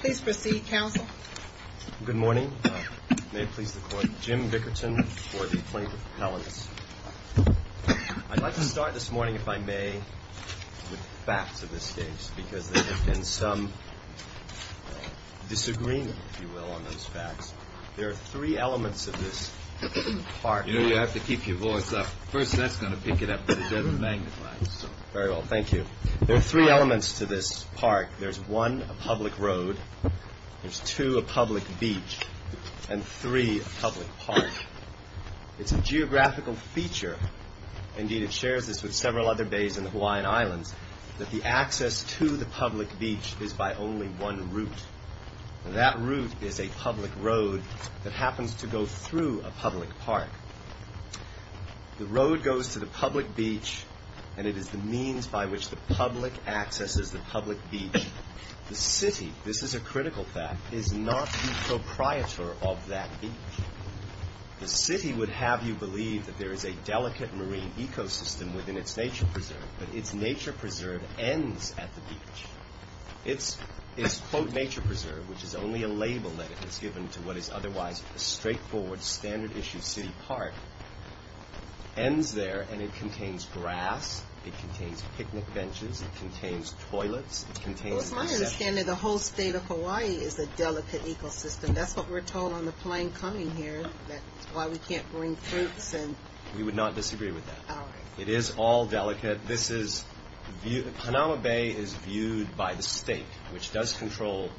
Please proceed, Counsel. Good morning. May it please the Court, Jim Bickerton for the plaintiff's appellants. I'd like to start this morning, if I may, with facts of this case, because there has been some disagreement, if you will, on those facts. There are three elements to this part. You have to keep your voice up. First, that's going to pick it up, but it doesn't magnify it. Very well. Thank you. There are three elements to this part. There's one, a public road. There's two, a public beach. And three, a public park. It's a geographical feature. Indeed, it shares this with several other bays in the Hawaiian Islands, that the access to the public beach is by only one route. And that route is a public road that happens to go through a public park. The road goes to the public beach, and it is the means by which the public accesses the public beach. The city, this is a critical fact, is not the proprietor of that beach. The city would have you believe that there is a delicate marine ecosystem within its nature preserve, but its nature preserve ends at the beach. Its, quote, nature preserve, which is only a label that is given to what is otherwise a straightforward, standard-issue city park, ends there, and it contains grass, it contains picnic benches, it contains toilets, it contains— Well, it's my understanding the whole state of Hawaii is a delicate ecosystem. That's what we're told on the plane coming here, that's why we can't bring fruits and— We would not disagree with that. All right. It is all delicate. Hanawa Bay is viewed by the state, which does control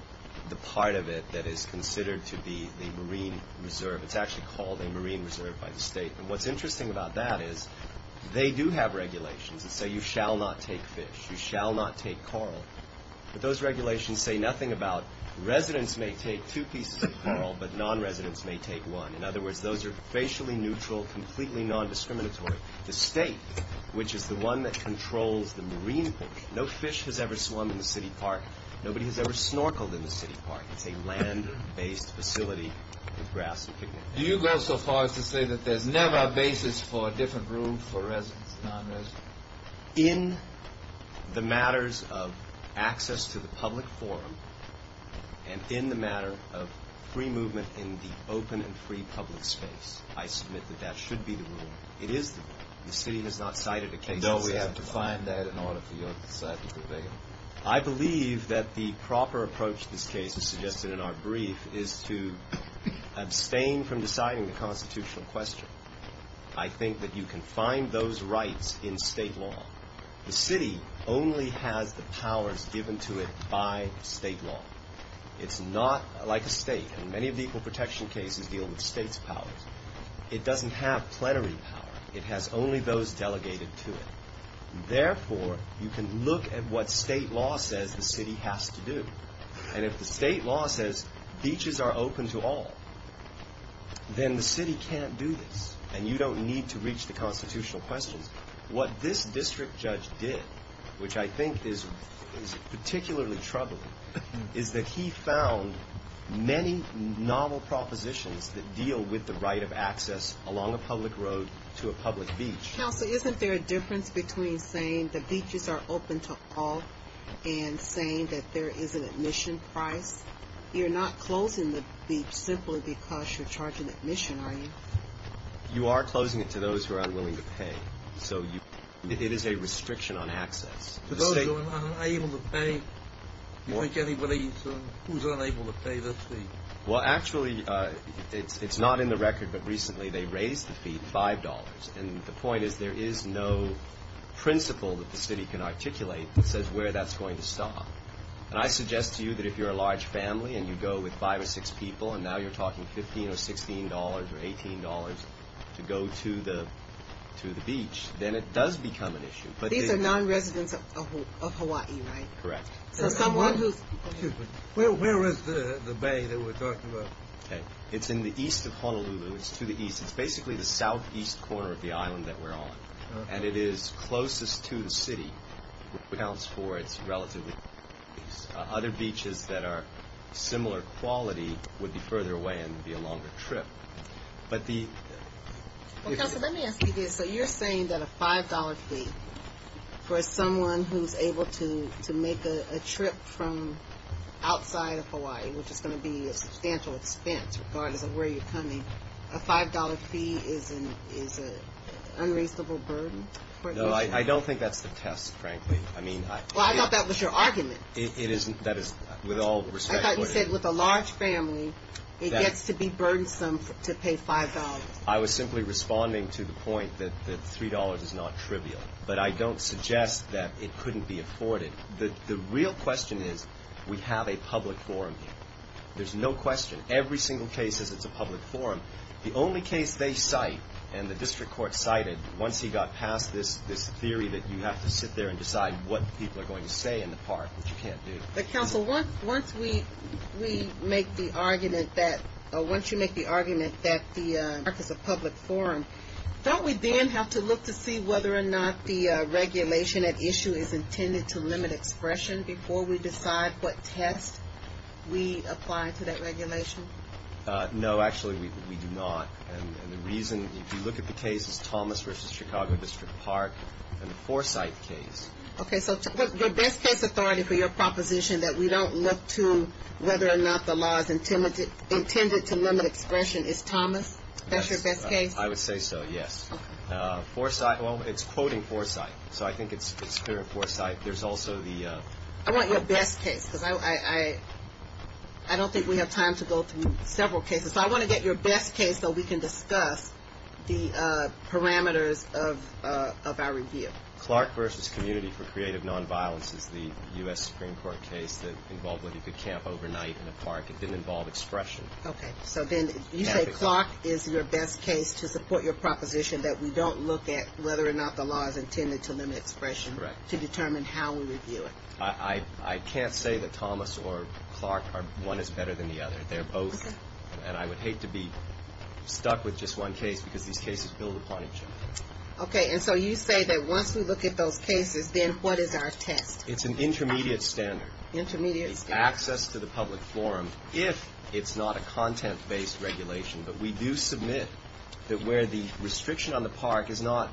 the part of it that is considered to be the marine reserve. It's actually called a marine reserve by the state. And what's interesting about that is they do have regulations that say you shall not take fish, you shall not take coral. But those regulations say nothing about residents may take two pieces of coral, but non-residents may take one. In other words, those are facially neutral, completely non-discriminatory. The state, which is the one that controls the marine portion, no fish has ever swum in the city park. Nobody has ever snorkeled in the city park. It's a land-based facility with grass and picnic benches. Do you go so far as to say that there's never a basis for a different rule for residents and non-residents? In the matters of access to the public forum and in the matter of free movement in the open and free public space, I submit that that should be the rule. It is the rule. The city has not cited a case. And don't we have to find that in order for your side to prevail? I believe that the proper approach to this case, as suggested in our brief, is to abstain from deciding the constitutional question. I think that you can find those rights in state law. The city only has the powers given to it by state law. It's not like a state. And many of the equal protection cases deal with state's powers. It doesn't have plenary power. It has only those delegated to it. Therefore, you can look at what state law says the city has to do. And if the state law says beaches are open to all, then the city can't do this. And you don't need to reach the constitutional questions. What this district judge did, which I think is particularly troubling, is that he found many novel propositions that deal with the right of access along a public road to a public beach. Counsel, isn't there a difference between saying the beaches are open to all and saying that there is an admission price? You're not closing the beach simply because you're charging admission, are you? You are closing it to those who are unwilling to pay. So it is a restriction on access. To those who are unable to pay? You think anybody who's unable to pay this fee? Well, actually, it's not in the record, but recently they raised the fee $5. And the point is there is no principle that the city can articulate that says where that's going to stop. And I suggest to you that if you're a large family and you go with five or six people and now you're talking $15 or $16 or $18 to go to the beach, then it does become an issue. These are non-residents of Hawaii, right? Correct. Where is the bay that we're talking about? It's in the east of Honolulu. It's to the east. It's basically the southeast corner of the island that we're on. And it is closest to the city. Other beaches that are similar quality would be further away and be a longer trip. Let me ask you this. So you're saying that a $5 fee for someone who's able to make a trip from outside of Hawaii, which is going to be a substantial expense regardless of where you're coming, a $5 fee is an unreasonable burden? No, I don't think that's the test, frankly. Well, I thought that was your argument. That is with all respect. I thought you said with a large family, it gets to be burdensome to pay $5. I was simply responding to the point that $3 is not trivial. But I don't suggest that it couldn't be afforded. The real question is we have a public forum here. There's no question. Every single case is it's a public forum. The only case they cite and the district court cited once he got past this theory that you have to sit there and decide what people are going to say in the park, which you can't do. But, counsel, once we make the argument that the park is a public forum, don't we then have to look to see whether or not the regulation at issue is intended to limit expression before we decide what test we apply to that regulation? No, actually, we do not. And the reason, if you look at the cases, Thomas v. Chicago District Park and the Foresight case. Okay, so your best case authority for your proposition that we don't look to whether or not the law is intended to limit expression is Thomas? That's your best case? I would say so, yes. Foresight, well, it's quoting Foresight. So I think it's clear in Foresight. There's also the- I want your best case because I don't think we have time to go through several cases. So I want to get your best case so we can discuss the parameters of our review. Clark v. Community for Creative Nonviolence is the U.S. Supreme Court case that involved whether you could camp overnight in a park. It didn't involve expression. Okay, so then you say Clark is your best case to support your proposition that we don't look at whether or not the law is intended to limit expression. Correct. To determine how we review it. I can't say that Thomas or Clark are one is better than the other. They're both. And I would hate to be stuck with just one case because these cases build upon each other. Okay, and so you say that once we look at those cases, then what is our test? It's an intermediate standard. Intermediate standard. It's access to the public forum if it's not a content-based regulation. But we do submit that where the restriction on the park is not,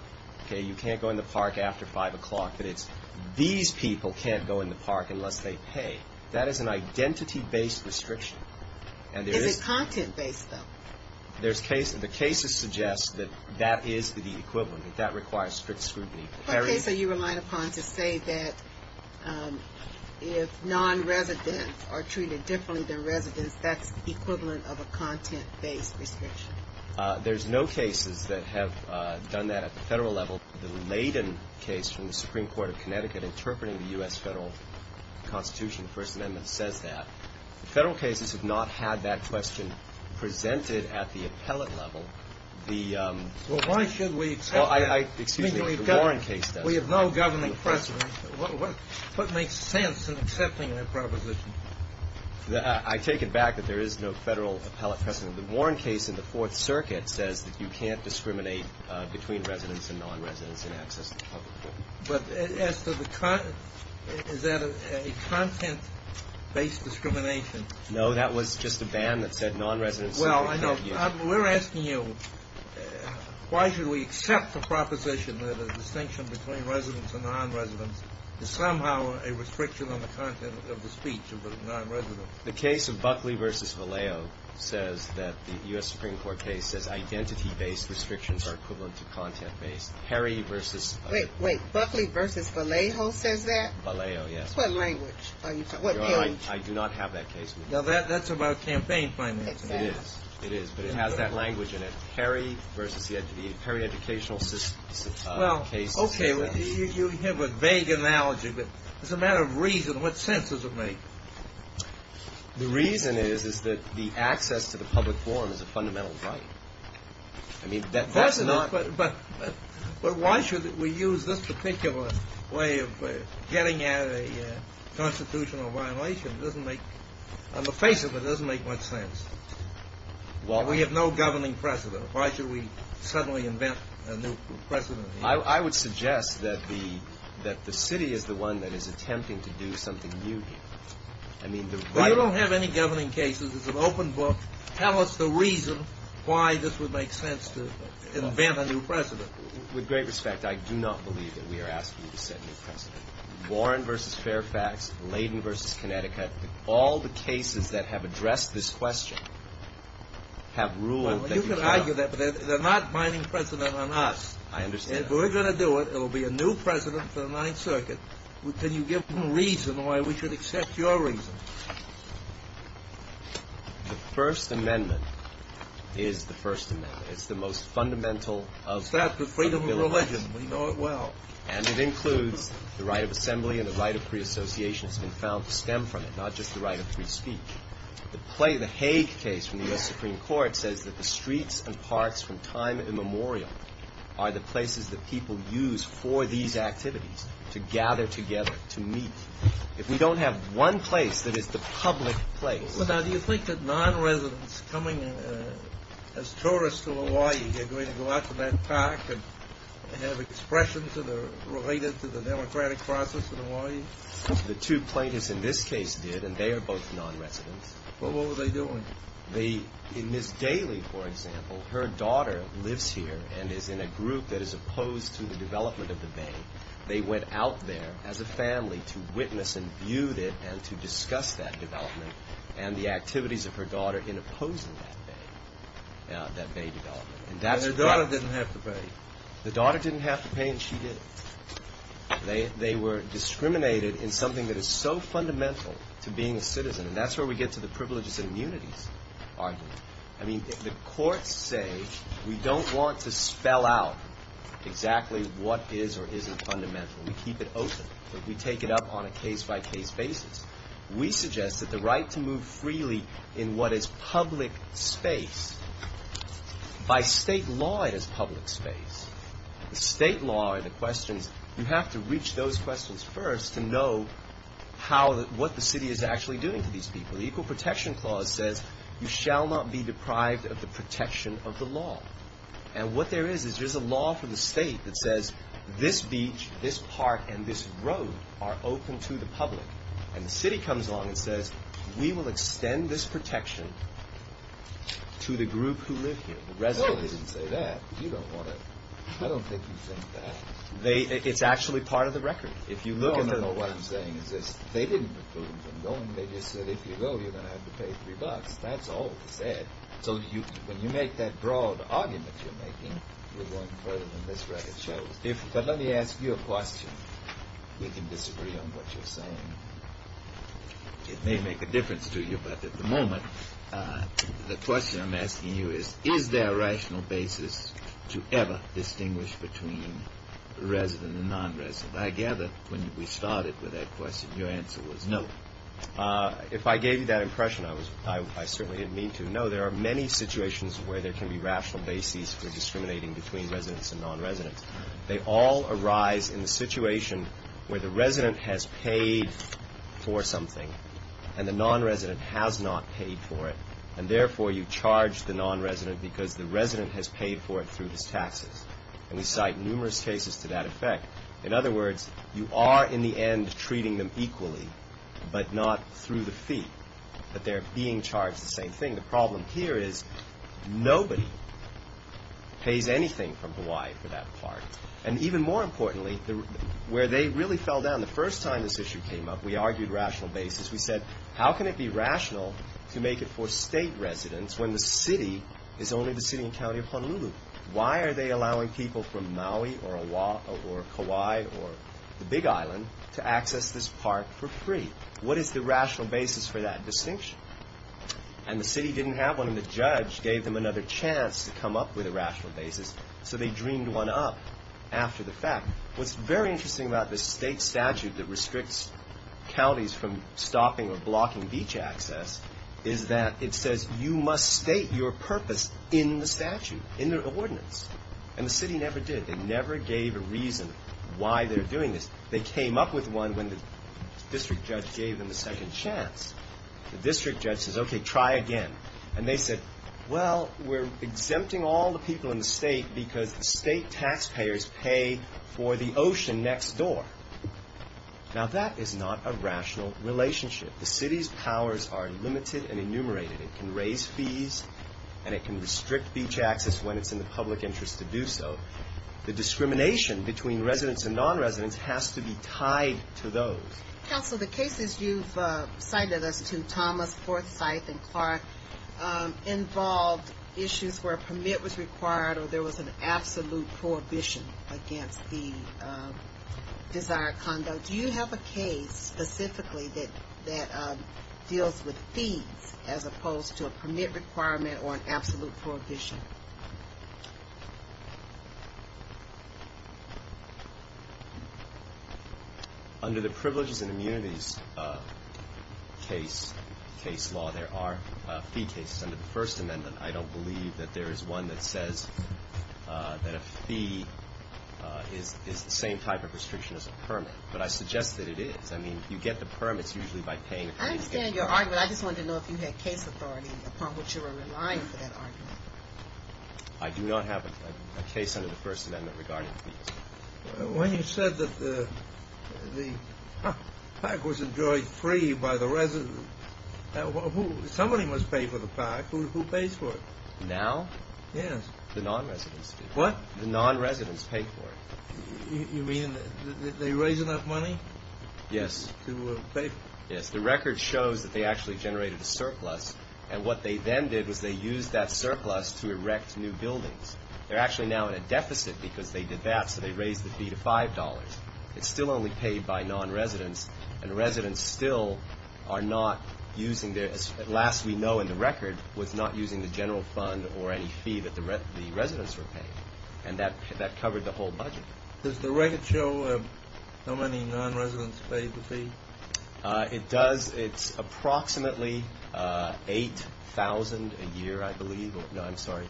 okay, you can't go in the park after 5 o'clock, but it's these people can't go in the park unless they pay. That is an identity-based restriction. Is it content-based, though? The cases suggest that that is the equivalent, that that requires strict scrutiny. What case are you relying upon to say that if non-residents are treated differently than residents, that's equivalent of a content-based restriction? There's no cases that have done that at the Federal level. The Layden case from the Supreme Court of Connecticut, interpreting the U.S. Federal Constitution, First Amendment, says that. The Federal cases have not had that question presented at the appellate level. Well, why should we accept that? Excuse me, the Warren case does. We have no governing precedent. What makes sense in accepting that proposition? I take it back that there is no Federal appellate precedent. The Warren case in the Fourth Circuit says that you can't discriminate between residents and non-residents in access to the public forum. But as to the content, is that a content-based discrimination? No, that was just a ban that said non-residents. Well, I know. We're asking you, why should we accept the proposition that a distinction between residents and non-residents is somehow a restriction on the content of the speech of a non-resident? The case of Buckley v. Vallejo says that the U.S. Supreme Court case says identity-based restrictions are equivalent to content-based. Harry v. Wait, wait. Buckley v. Vallejo says that? Vallejo, yes. What language? I do not have that case with me. Now, that's about campaign financing. It is. It is, but it has that language in it. Harry v. The Perry Educational System case. Well, okay, you have a vague analogy, but as a matter of reason, what sense does it make? The reason is that the access to the public forum is a fundamental right. I mean, that's not— But why should we use this particular way of getting at a constitutional violation? On the face of it, it doesn't make much sense. We have no governing precedent. Why should we suddenly invent a new precedent? I would suggest that the city is the one that is attempting to do something new here. I mean, the right— We don't have any governing cases. It's an open book. Tell us the reason why this would make sense to invent a new precedent. With great respect, I do not believe that we are asking you to set a new precedent. Warren v. Fairfax, Layden v. Connecticut, all the cases that have addressed this question have ruled that you have— Well, you can argue that, but they're not binding precedent on us. I understand. If we're going to do it, it will be a new precedent for the Ninth Circuit. Can you give them a reason why we should accept your reason? The First Amendment is the First Amendment. It's the most fundamental of— It starts with freedom of religion. We know it well. And it includes the right of assembly and the right of free association. It's been found to stem from it, not just the right of free speech. The Hague case from the U.S. Supreme Court says that the streets and parks from time immemorial are the places that people use for these activities to gather together, to meet. If we don't have one place that is the public place— The Democratic process in Hawaii? The two plaintiffs in this case did, and they are both non-residents. Well, what were they doing? In Ms. Daly, for example, her daughter lives here and is in a group that is opposed to the development of the bay. They went out there as a family to witness and view it and to discuss that development and the activities of her daughter in opposing that bay, that bay development. And her daughter didn't have to pay. The daughter didn't have to pay, and she did. They were discriminated in something that is so fundamental to being a citizen. And that's where we get to the privileges and immunities argument. I mean, the courts say we don't want to spell out exactly what is or isn't fundamental. We keep it open. We take it up on a case-by-case basis. We suggest that the right to move freely in what is public space—by state law, it is public space. The state law, the questions—you have to reach those questions first to know how—what the city is actually doing to these people. The Equal Protection Clause says you shall not be deprived of the protection of the law. And what there is is there's a law for the state that says this beach, this park, and this road are open to the public. And the city comes along and says, we will extend this protection to the group who live here, the residents. No, they didn't say that. You don't want to—I don't think you think that. It's actually part of the record. No, no, no. What I'm saying is this. They didn't preclude them from going. They just said, if you go, you're going to have to pay three bucks. That's all they said. So when you make that broad argument you're making, you're going further than this record shows. But let me ask you a question. We can disagree on what you're saying. It may make a difference to you, but at the moment, the question I'm asking you is, is there a rational basis to ever distinguish between resident and nonresident? I gather when we started with that question, your answer was no. If I gave you that impression, I certainly didn't mean to. No, there are many situations where there can be rational basis for discriminating between residents and nonresidents. They all arise in the situation where the resident has paid for something and the nonresident has not paid for it, and therefore you charge the nonresident because the resident has paid for it through his taxes. And we cite numerous cases to that effect. In other words, you are in the end treating them equally but not through the fee, but they're being charged the same thing. The problem here is nobody pays anything from Hawaii for that park. And even more importantly, where they really fell down the first time this issue came up, we argued rational basis. We said, how can it be rational to make it for state residents when the city is only the city and county of Honolulu? Why are they allowing people from Maui or Kauai or the Big Island to access this park for free? What is the rational basis for that distinction? And the city didn't have one, and the judge gave them another chance to come up with a rational basis, so they dreamed one up after the fact. What's very interesting about the state statute that restricts counties from stopping or blocking beach access is that it says, you must state your purpose in the statute, in the ordinance. And the city never did. They never gave a reason why they're doing this. They came up with one when the district judge gave them the second chance. The district judge says, okay, try again. And they said, well, we're exempting all the people in the state because the state taxpayers pay for the ocean next door. Now, that is not a rational relationship. The city's powers are limited and enumerated. It can raise fees, and it can restrict beach access when it's in the public interest to do so. The discrimination between residents and non-residents has to be tied to those. Counsel, the cases you've cited us to, Thomas, Forsyth, and Clark, involved issues where a permit was required or there was an absolute prohibition against the desired conduct. Do you have a case specifically that deals with fees as opposed to a permit requirement or an absolute prohibition? Under the Privileges and Immunities case law, there are fee cases. Under the First Amendment, I don't believe that there is one that says that a fee is the same type of restriction as a permit. But I suggest that it is. I mean, you get the permits usually by paying a fee. I understand your argument. I just wanted to know if you had case authority upon which you were relying for that argument. I do not have a case under the First Amendment regarding fees. When you said that the park was enjoyed free by the residents, somebody must pay for the park. Who pays for it? Now? Yes. The non-residents do. What? The non-residents pay for it. You mean they raise enough money? Yes. To pay for it? Yes. The record shows that they actually generated a surplus, and what they then did was they used that surplus to erect new buildings. They're actually now in a deficit because they did that, so they raised the fee to $5. It's still only paid by non-residents, and residents still are not using their – last we know in the record was not using the general fund or any fee that the residents were paying, and that covered the whole budget. Does the record show how many non-residents paid the fee? It does. It's approximately 8,000 a year, I believe. No, I'm sorry.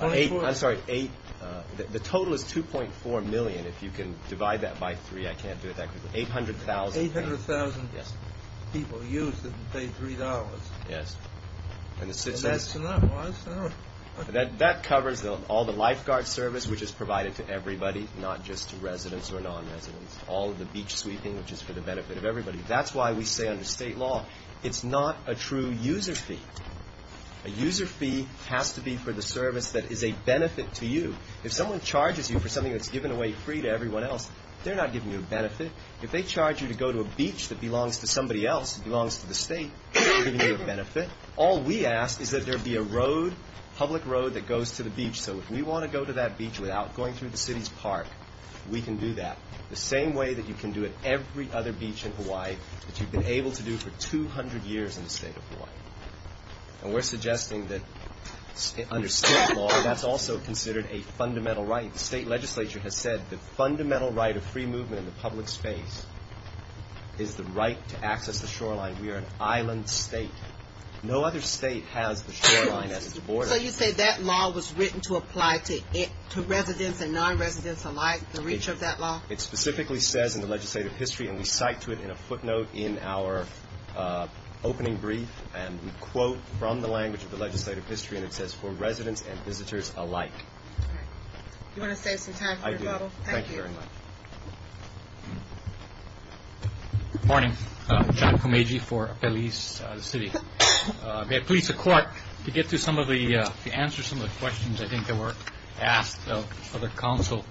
I'm sorry. The total is 2.4 million. If you can divide that by three, I can't do it that quickly. 800,000. 800,000 people used it to pay $3. Yes. And that's enough. That covers all the lifeguard service, which is provided to everybody, not just to residents or non-residents. All of the beach sweeping, which is for the benefit of everybody. That's why we say under state law it's not a true user fee. A user fee has to be for the service that is a benefit to you. If someone charges you for something that's given away free to everyone else, they're not giving you a benefit. If they charge you to go to a beach that belongs to somebody else, that belongs to the state, they're not giving you a benefit. All we ask is that there be a road, public road, that goes to the beach, so if we want to go to that beach without going through the city's park, we can do that. The same way that you can do it every other beach in Hawaii that you've been able to do for 200 years in the state of Hawaii. And we're suggesting that under state law that's also considered a fundamental right. The state legislature has said the fundamental right of free movement in the public space is the right to access the shoreline. We are an island state. No other state has the shoreline as its border. So you say that law was written to apply to residents and non-residents alike, the reach of that law? It specifically says in the legislative history, and we cite to it in a footnote in our opening brief, and we quote from the language of the legislative history, and it says, for residents and visitors alike. All right. Do you want to save some time for your bottle? I do. Thank you. Thank you very much. Good morning. John Komeiji for Belize City. May I please request to get to some of the answers to some of the questions I think that were asked of the council.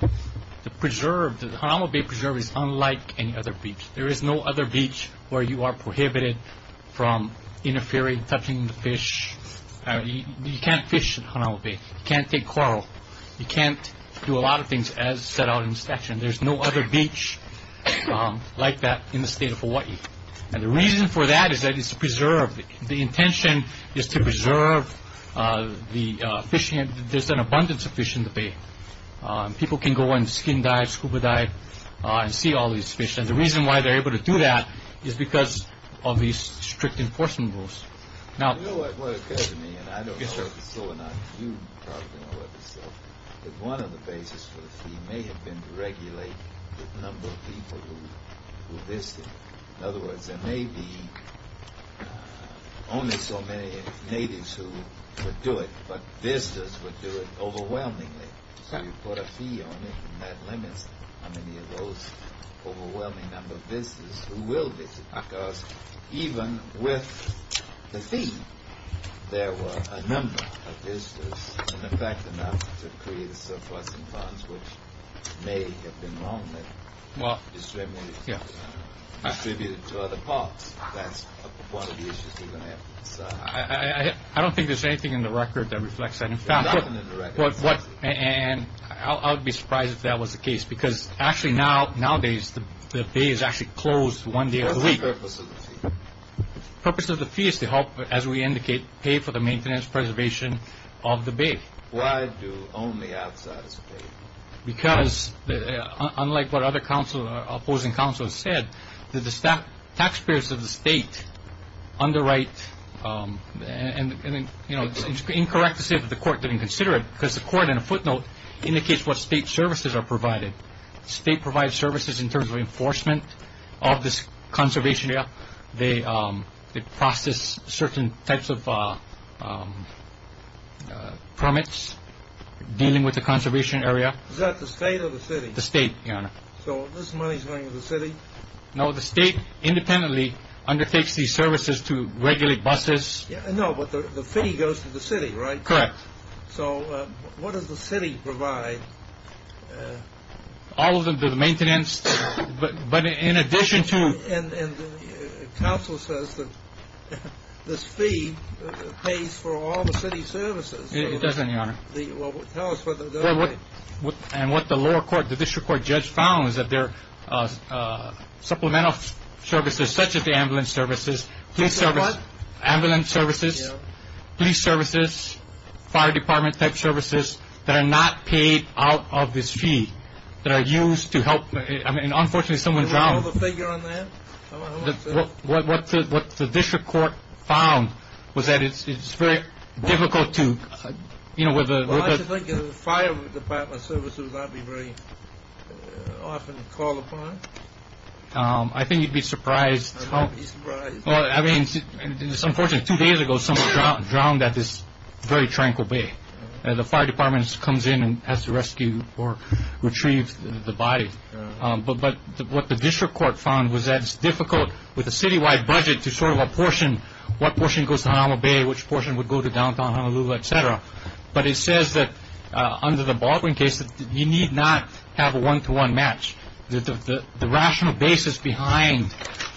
The preserve, the Hanawa Bay preserve is unlike any other beach. There is no other beach where you are prohibited from interfering, touching the fish. You can't fish in Hanawa Bay. You can't take coral. You can't do a lot of things as set out in the statute. And there's no other beach like that in the state of Hawaii. And the reason for that is that it's a preserve. The intention is to preserve the fish. There's an abundance of fish in the bay. People can go and skin dive, scuba dive, and see all these fish. And the reason why they're able to do that is because of these strict enforcement rules. You know what it occurs to me, and I don't know if it's still an issue, but one of the bases for the fee may have been to regulate the number of people who visit. In other words, there may be only so many natives who would do it, but visitors would do it overwhelmingly. So you put a fee on it, and that limits how many of those overwhelming number of visitors who will visit. Because even with the fee, there were a number of visitors, and in fact enough to create a surplus in funds which may have been wrongly distributed to other parts. That's one of the issues we're going to have to decide. I don't think there's anything in the record that reflects that. There's nothing in the record. And I would be surprised if that was the case, because actually nowadays the bay is actually closed one day a week. What's the purpose of the fee? The purpose of the fee is to help, as we indicate, pay for the maintenance and preservation of the bay. Why do only outsiders pay? Because unlike what other opposing counsels said, the taxpayers of the state underwrite, and it's incorrect to say that the court didn't consider it, because the court in a footnote indicates what state services are provided. The state provides services in terms of enforcement of this conservation area. They process certain types of permits dealing with the conservation area. Is that the state or the city? The state, Your Honor. So this money is going to the city? No, the state independently undertakes these services to regulate buses. No, but the fee goes to the city, right? Correct. So what does the city provide? All of them, the maintenance, but in addition to- And counsel says that this fee pays for all the city services. It doesn't, Your Honor. Well, tell us what the- And what the lower court, the district court judge found is that there are supplemental services, such as the ambulance services, police services- What? Ambulance services. Yeah. Police services, fire department type services that are not paid out of this fee, that are used to help- I mean, unfortunately, someone drowned- Can we have a figure on that? What the district court found was that it's very difficult to- Well, I think the fire department services aren't very often called upon. I think you'd be surprised- I'd be surprised. Well, I mean, unfortunately, two days ago someone drowned at this very tranquil bay, and the fire department comes in and has to rescue or retrieve the body. But what the district court found was that it's difficult with a citywide budget to sort of apportion what portion goes to Honolulu Bay, which portion would go to downtown Honolulu, et cetera. But it says that under the Baldwin case, you need not have a one-to-one match. The rational basis behind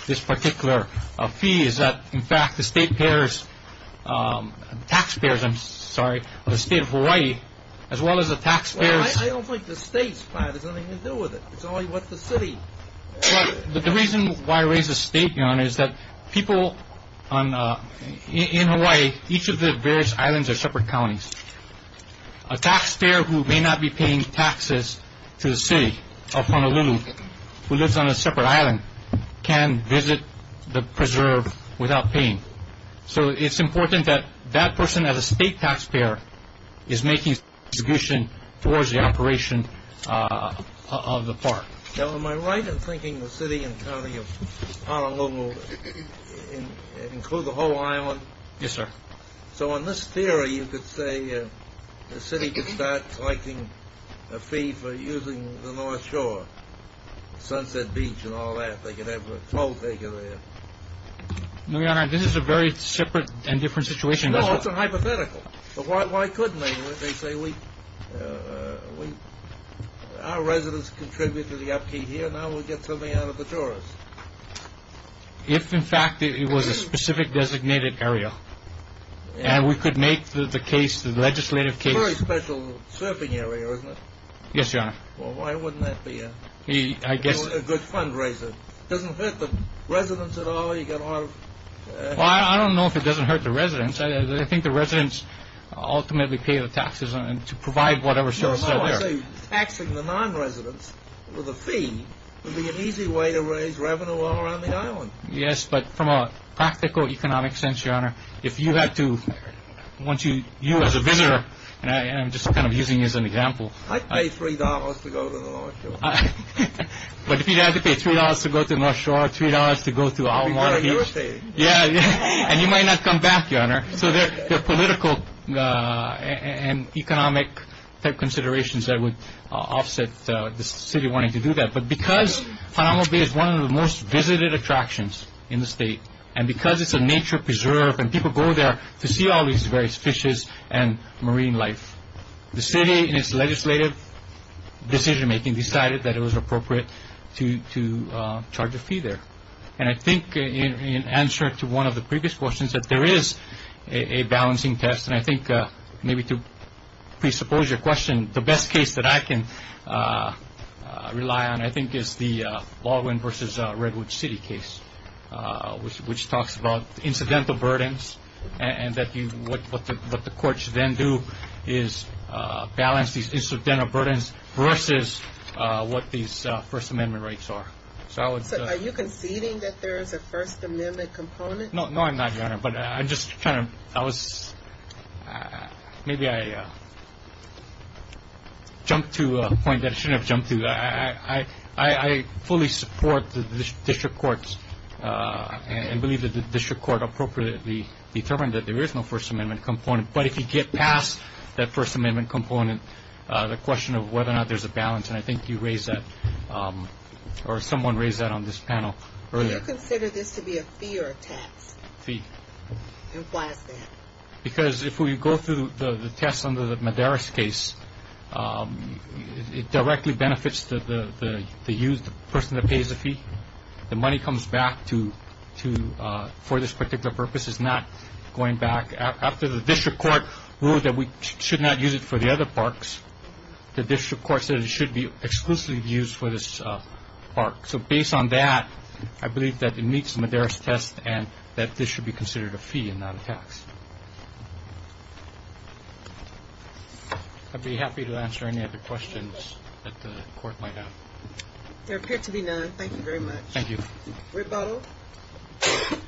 this particular fee is that, in fact, the state payers-taxpayers, I'm sorry, of the state of Hawaii, as well as the taxpayers- Well, I don't think the state's part has anything to do with it. It's only what the city- But the reason why I raise the state here on it is that people in Hawaii, each of the various islands are separate counties. A taxpayer who may not be paying taxes to the city of Honolulu, who lives on a separate island, can visit the preserve without paying. So it's important that that person as a state taxpayer is making a contribution towards the operation of the park. Now, am I right in thinking the city and county of Honolulu include the whole island? Yes, sir. So in this theory, you could say the city could start collecting a fee for using the North Shore, Sunset Beach and all that. They could have a toll taker there. No, Your Honor, this is a very separate and different situation. No, it's a hypothetical. Why couldn't they? They say, our residents contribute to the upkeep here. Now we'll get something out of the tourists. If, in fact, it was a specific designated area and we could make the legislative case- It's a very special surfing area, isn't it? Yes, Your Honor. Well, why wouldn't that be a good fundraiser? Doesn't it hurt the residents at all? Well, I don't know if it doesn't hurt the residents. I think the residents ultimately pay the taxes to provide whatever services are there. Taxing the non-residents with a fee would be an easy way to raise revenue all around the island. Yes, but from a practical economic sense, Your Honor, if you had to- You as a visitor, and I'm just kind of using you as an example- I'd pay $3 to go to the North Shore. But if you had to pay $3 to go to the North Shore, $3 to go to- We'd go to your city. And you might not come back, Your Honor. So there are political and economic considerations that would offset the city wanting to do that. But because Fanamabe is one of the most visited attractions in the state, and because it's a nature preserve and people go there to see all these various fishes and marine life, the city, in its legislative decision-making, decided that it was appropriate to charge a fee there. And I think in answer to one of the previous questions, that there is a balancing test. And I think maybe to presuppose your question, the best case that I can rely on, I think, is the Baldwin v. Redwood City case, which talks about incidental burdens and what the courts then do is balance these incidental burdens versus what these First Amendment rights are. So I would say- So are you conceding that there is a First Amendment component? No, I'm not, Your Honor. But I'm just trying to- I was- maybe I jumped to a point that I shouldn't have jumped to. I fully support the district courts and believe that the district court appropriately determined that there is no First Amendment component. But if you get past that First Amendment component, the question of whether or not there's a balance, and I think you raised that or someone raised that on this panel earlier. Do you consider this to be a fee or a tax? Fee. And why is that? Because if we go through the test under the Madaris case, it directly benefits the person that pays the fee. The money comes back for this particular purpose. It's not going back. After the district court ruled that we should not use it for the other parks, the district court said it should be exclusively used for this park. So based on that, I believe that it meets the Madaris test and that this should be considered a fee and not a tax. I'd be happy to answer any other questions that the Court might have. There appear to be none. Thank you very much. Thank you. Rebuttal. With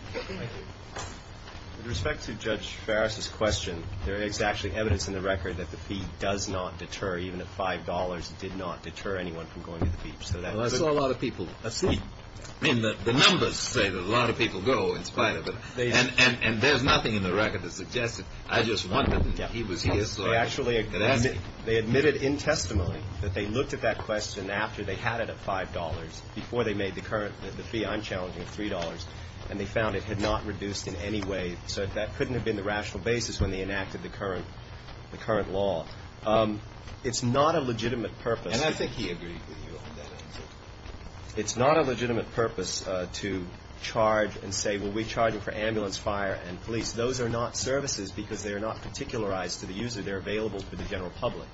respect to Judge Farris's question, there is actually evidence in the record that the fee does not deter, even at $5 it did not deter anyone from going to the beach. Well, I saw a lot of people. I see. I mean, the numbers say that a lot of people go in spite of it. And there's nothing in the record that suggests that I just wanted him, he was here. They admitted in testimony that they looked at that question after they had it at $5, before they made the current, the fee I'm challenging of $3, and they found it had not reduced in any way. So that couldn't have been the rational basis when they enacted the current law. It's not a legitimate purpose. And I think he agreed with you on that answer. It's not a legitimate purpose to charge and say, well, we're charging for ambulance, fire, and police. Those are not services because they are not particularized to the user. They're available to the general public.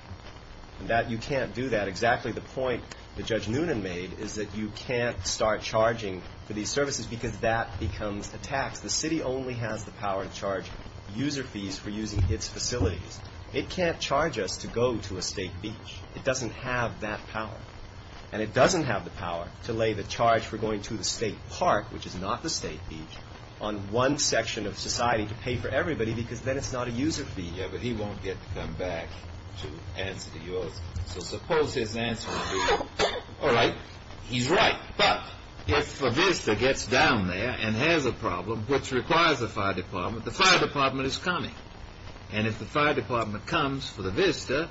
You can't do that. Exactly the point that Judge Noonan made is that you can't start charging for these services because that becomes a tax. The city only has the power to charge user fees for using its facilities. It can't charge us to go to a state beach. It doesn't have that power. And it doesn't have the power to lay the charge for going to the state park, which is not the state beach, on one section of society to pay for everybody because then it's not a user fee. Yeah, but he won't get to come back to answer to yours. So suppose his answer would be, all right, he's right. But if a VISTA gets down there and has a problem which requires a fire department, the fire department is coming. And if the fire department comes for the VISTA,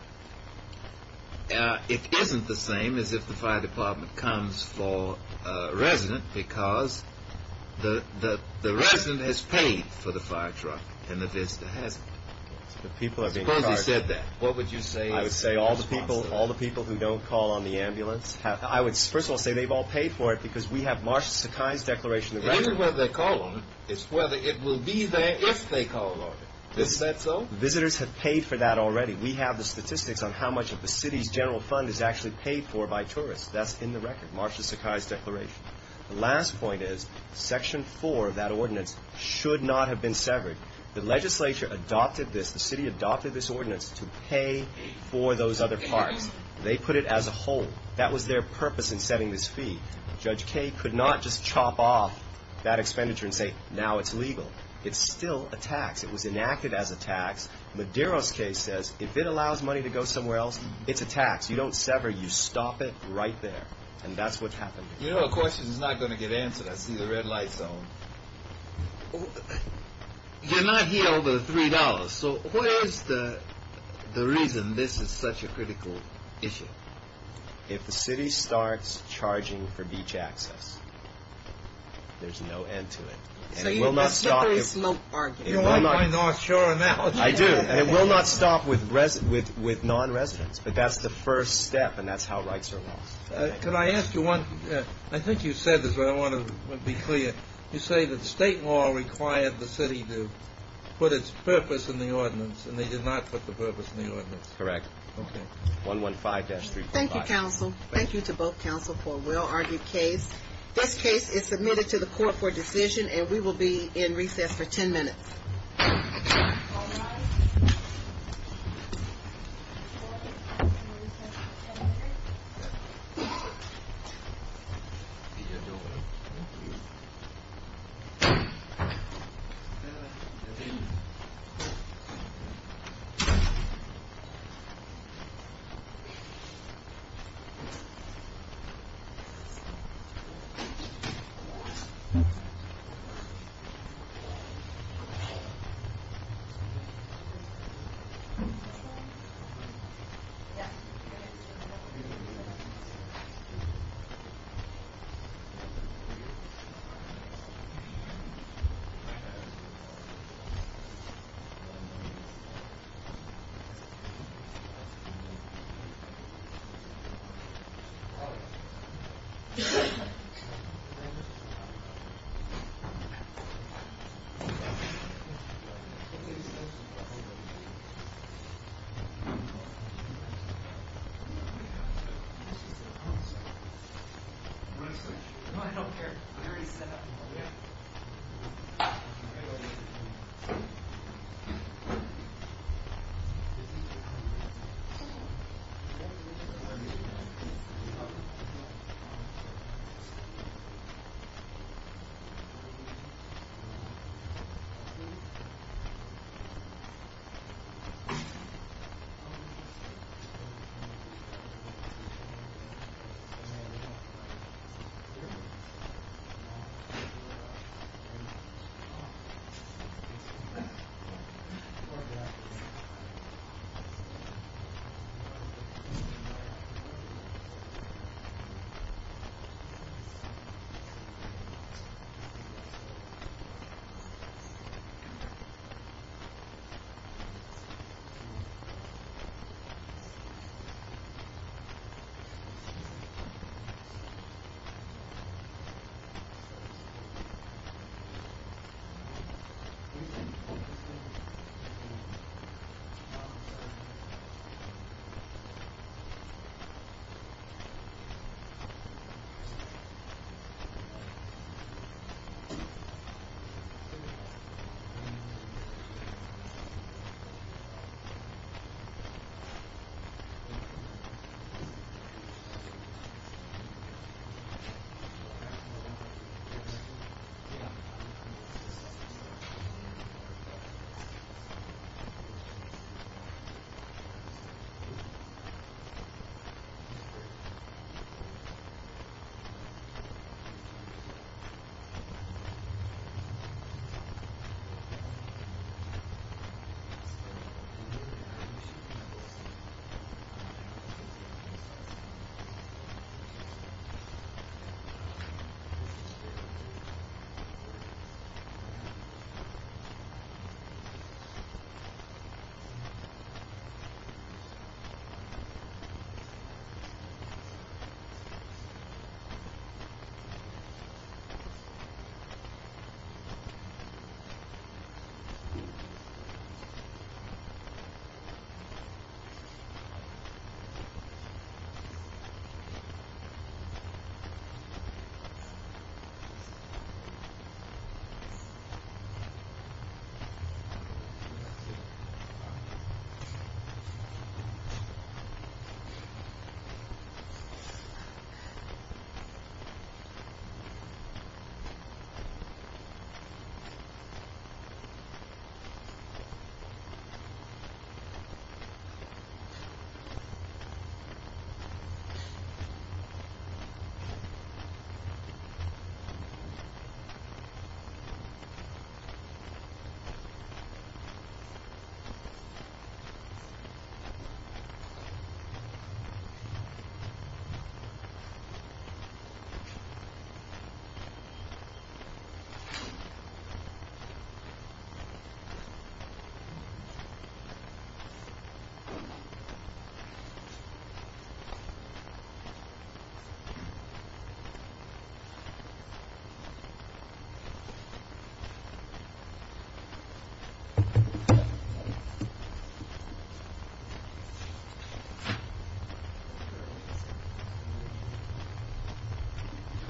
it isn't the same as if the fire department comes for a resident because the resident has paid for the fire truck and the VISTA hasn't. Suppose he said that, what would you say? I would first of all say they've all paid for it because we have Marsha Sakai's declaration. It isn't whether they call on it. It's whether it will be there if they call on it. Isn't that so? Visitors have paid for that already. We have the statistics on how much of the city's general fund is actually paid for by tourists. That's in the record, Marsha Sakai's declaration. The last point is Section 4 of that ordinance should not have been severed. The legislature adopted this. The city adopted this ordinance to pay for those other parks. They put it as a whole. That was their purpose in setting this fee. Judge Kaye could not just chop off that expenditure and say now it's legal. It's still a tax. It was enacted as a tax. Madero's case says if it allows money to go somewhere else, it's a tax. You don't sever. You stop it right there. And that's what's happened. You know, a question is not going to get answered. I see the red light zone. You're not here over the $3. So what is the reason this is such a critical issue? If the city starts charging for beach access, there's no end to it. And it will not stop. You're on my North Shore analogy. I do. And it will not stop with non-residents. But that's the first step, and that's how rights are lost. Can I ask you one? I think you said this, but I want to be clear. You say that state law required the city to put its purpose in the ordinance, and they did not put the purpose in the ordinance. Correct. Okay. 115-345. Thank you, counsel. Thank you to both counsel for a well-argued case. This case is submitted to the court for decision, and we will be in recess for 10 minutes. All rise. Thank you. I don't care. I already said that. Thank you. Thank you. Thank you. Thank you. Thank you. Thank you. Thank you. Thank you. Thank you. Thank you.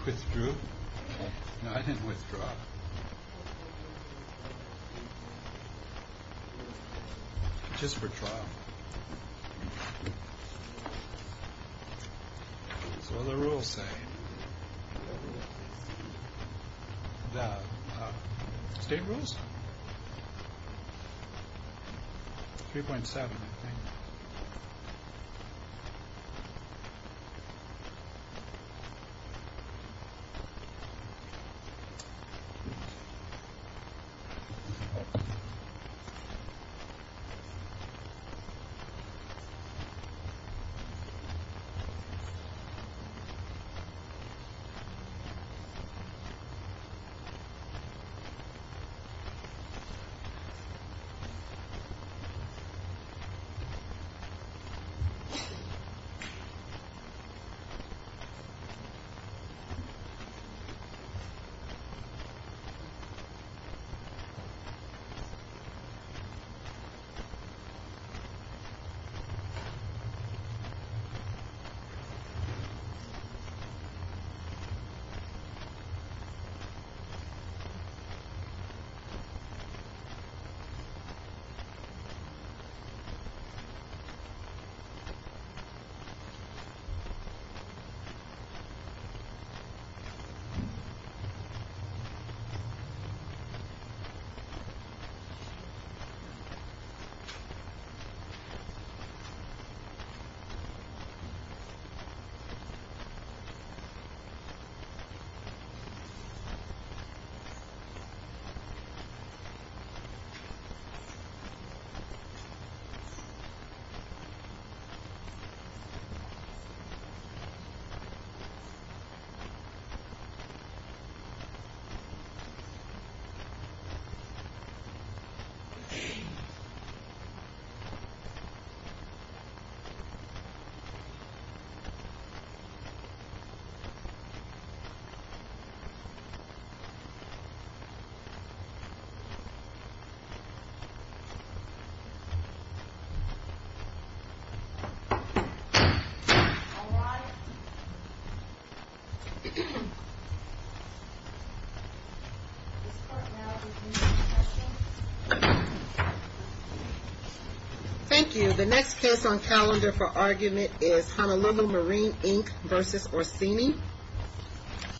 Withdrew? No, I didn't withdraw. Just for trial. So what do the rules say? State rules? 3.7, I think. 3.7. 3.7. 3.7. Thank you. The next case on calendar for argument is Honolulu Marine, Inc. versus Orsini.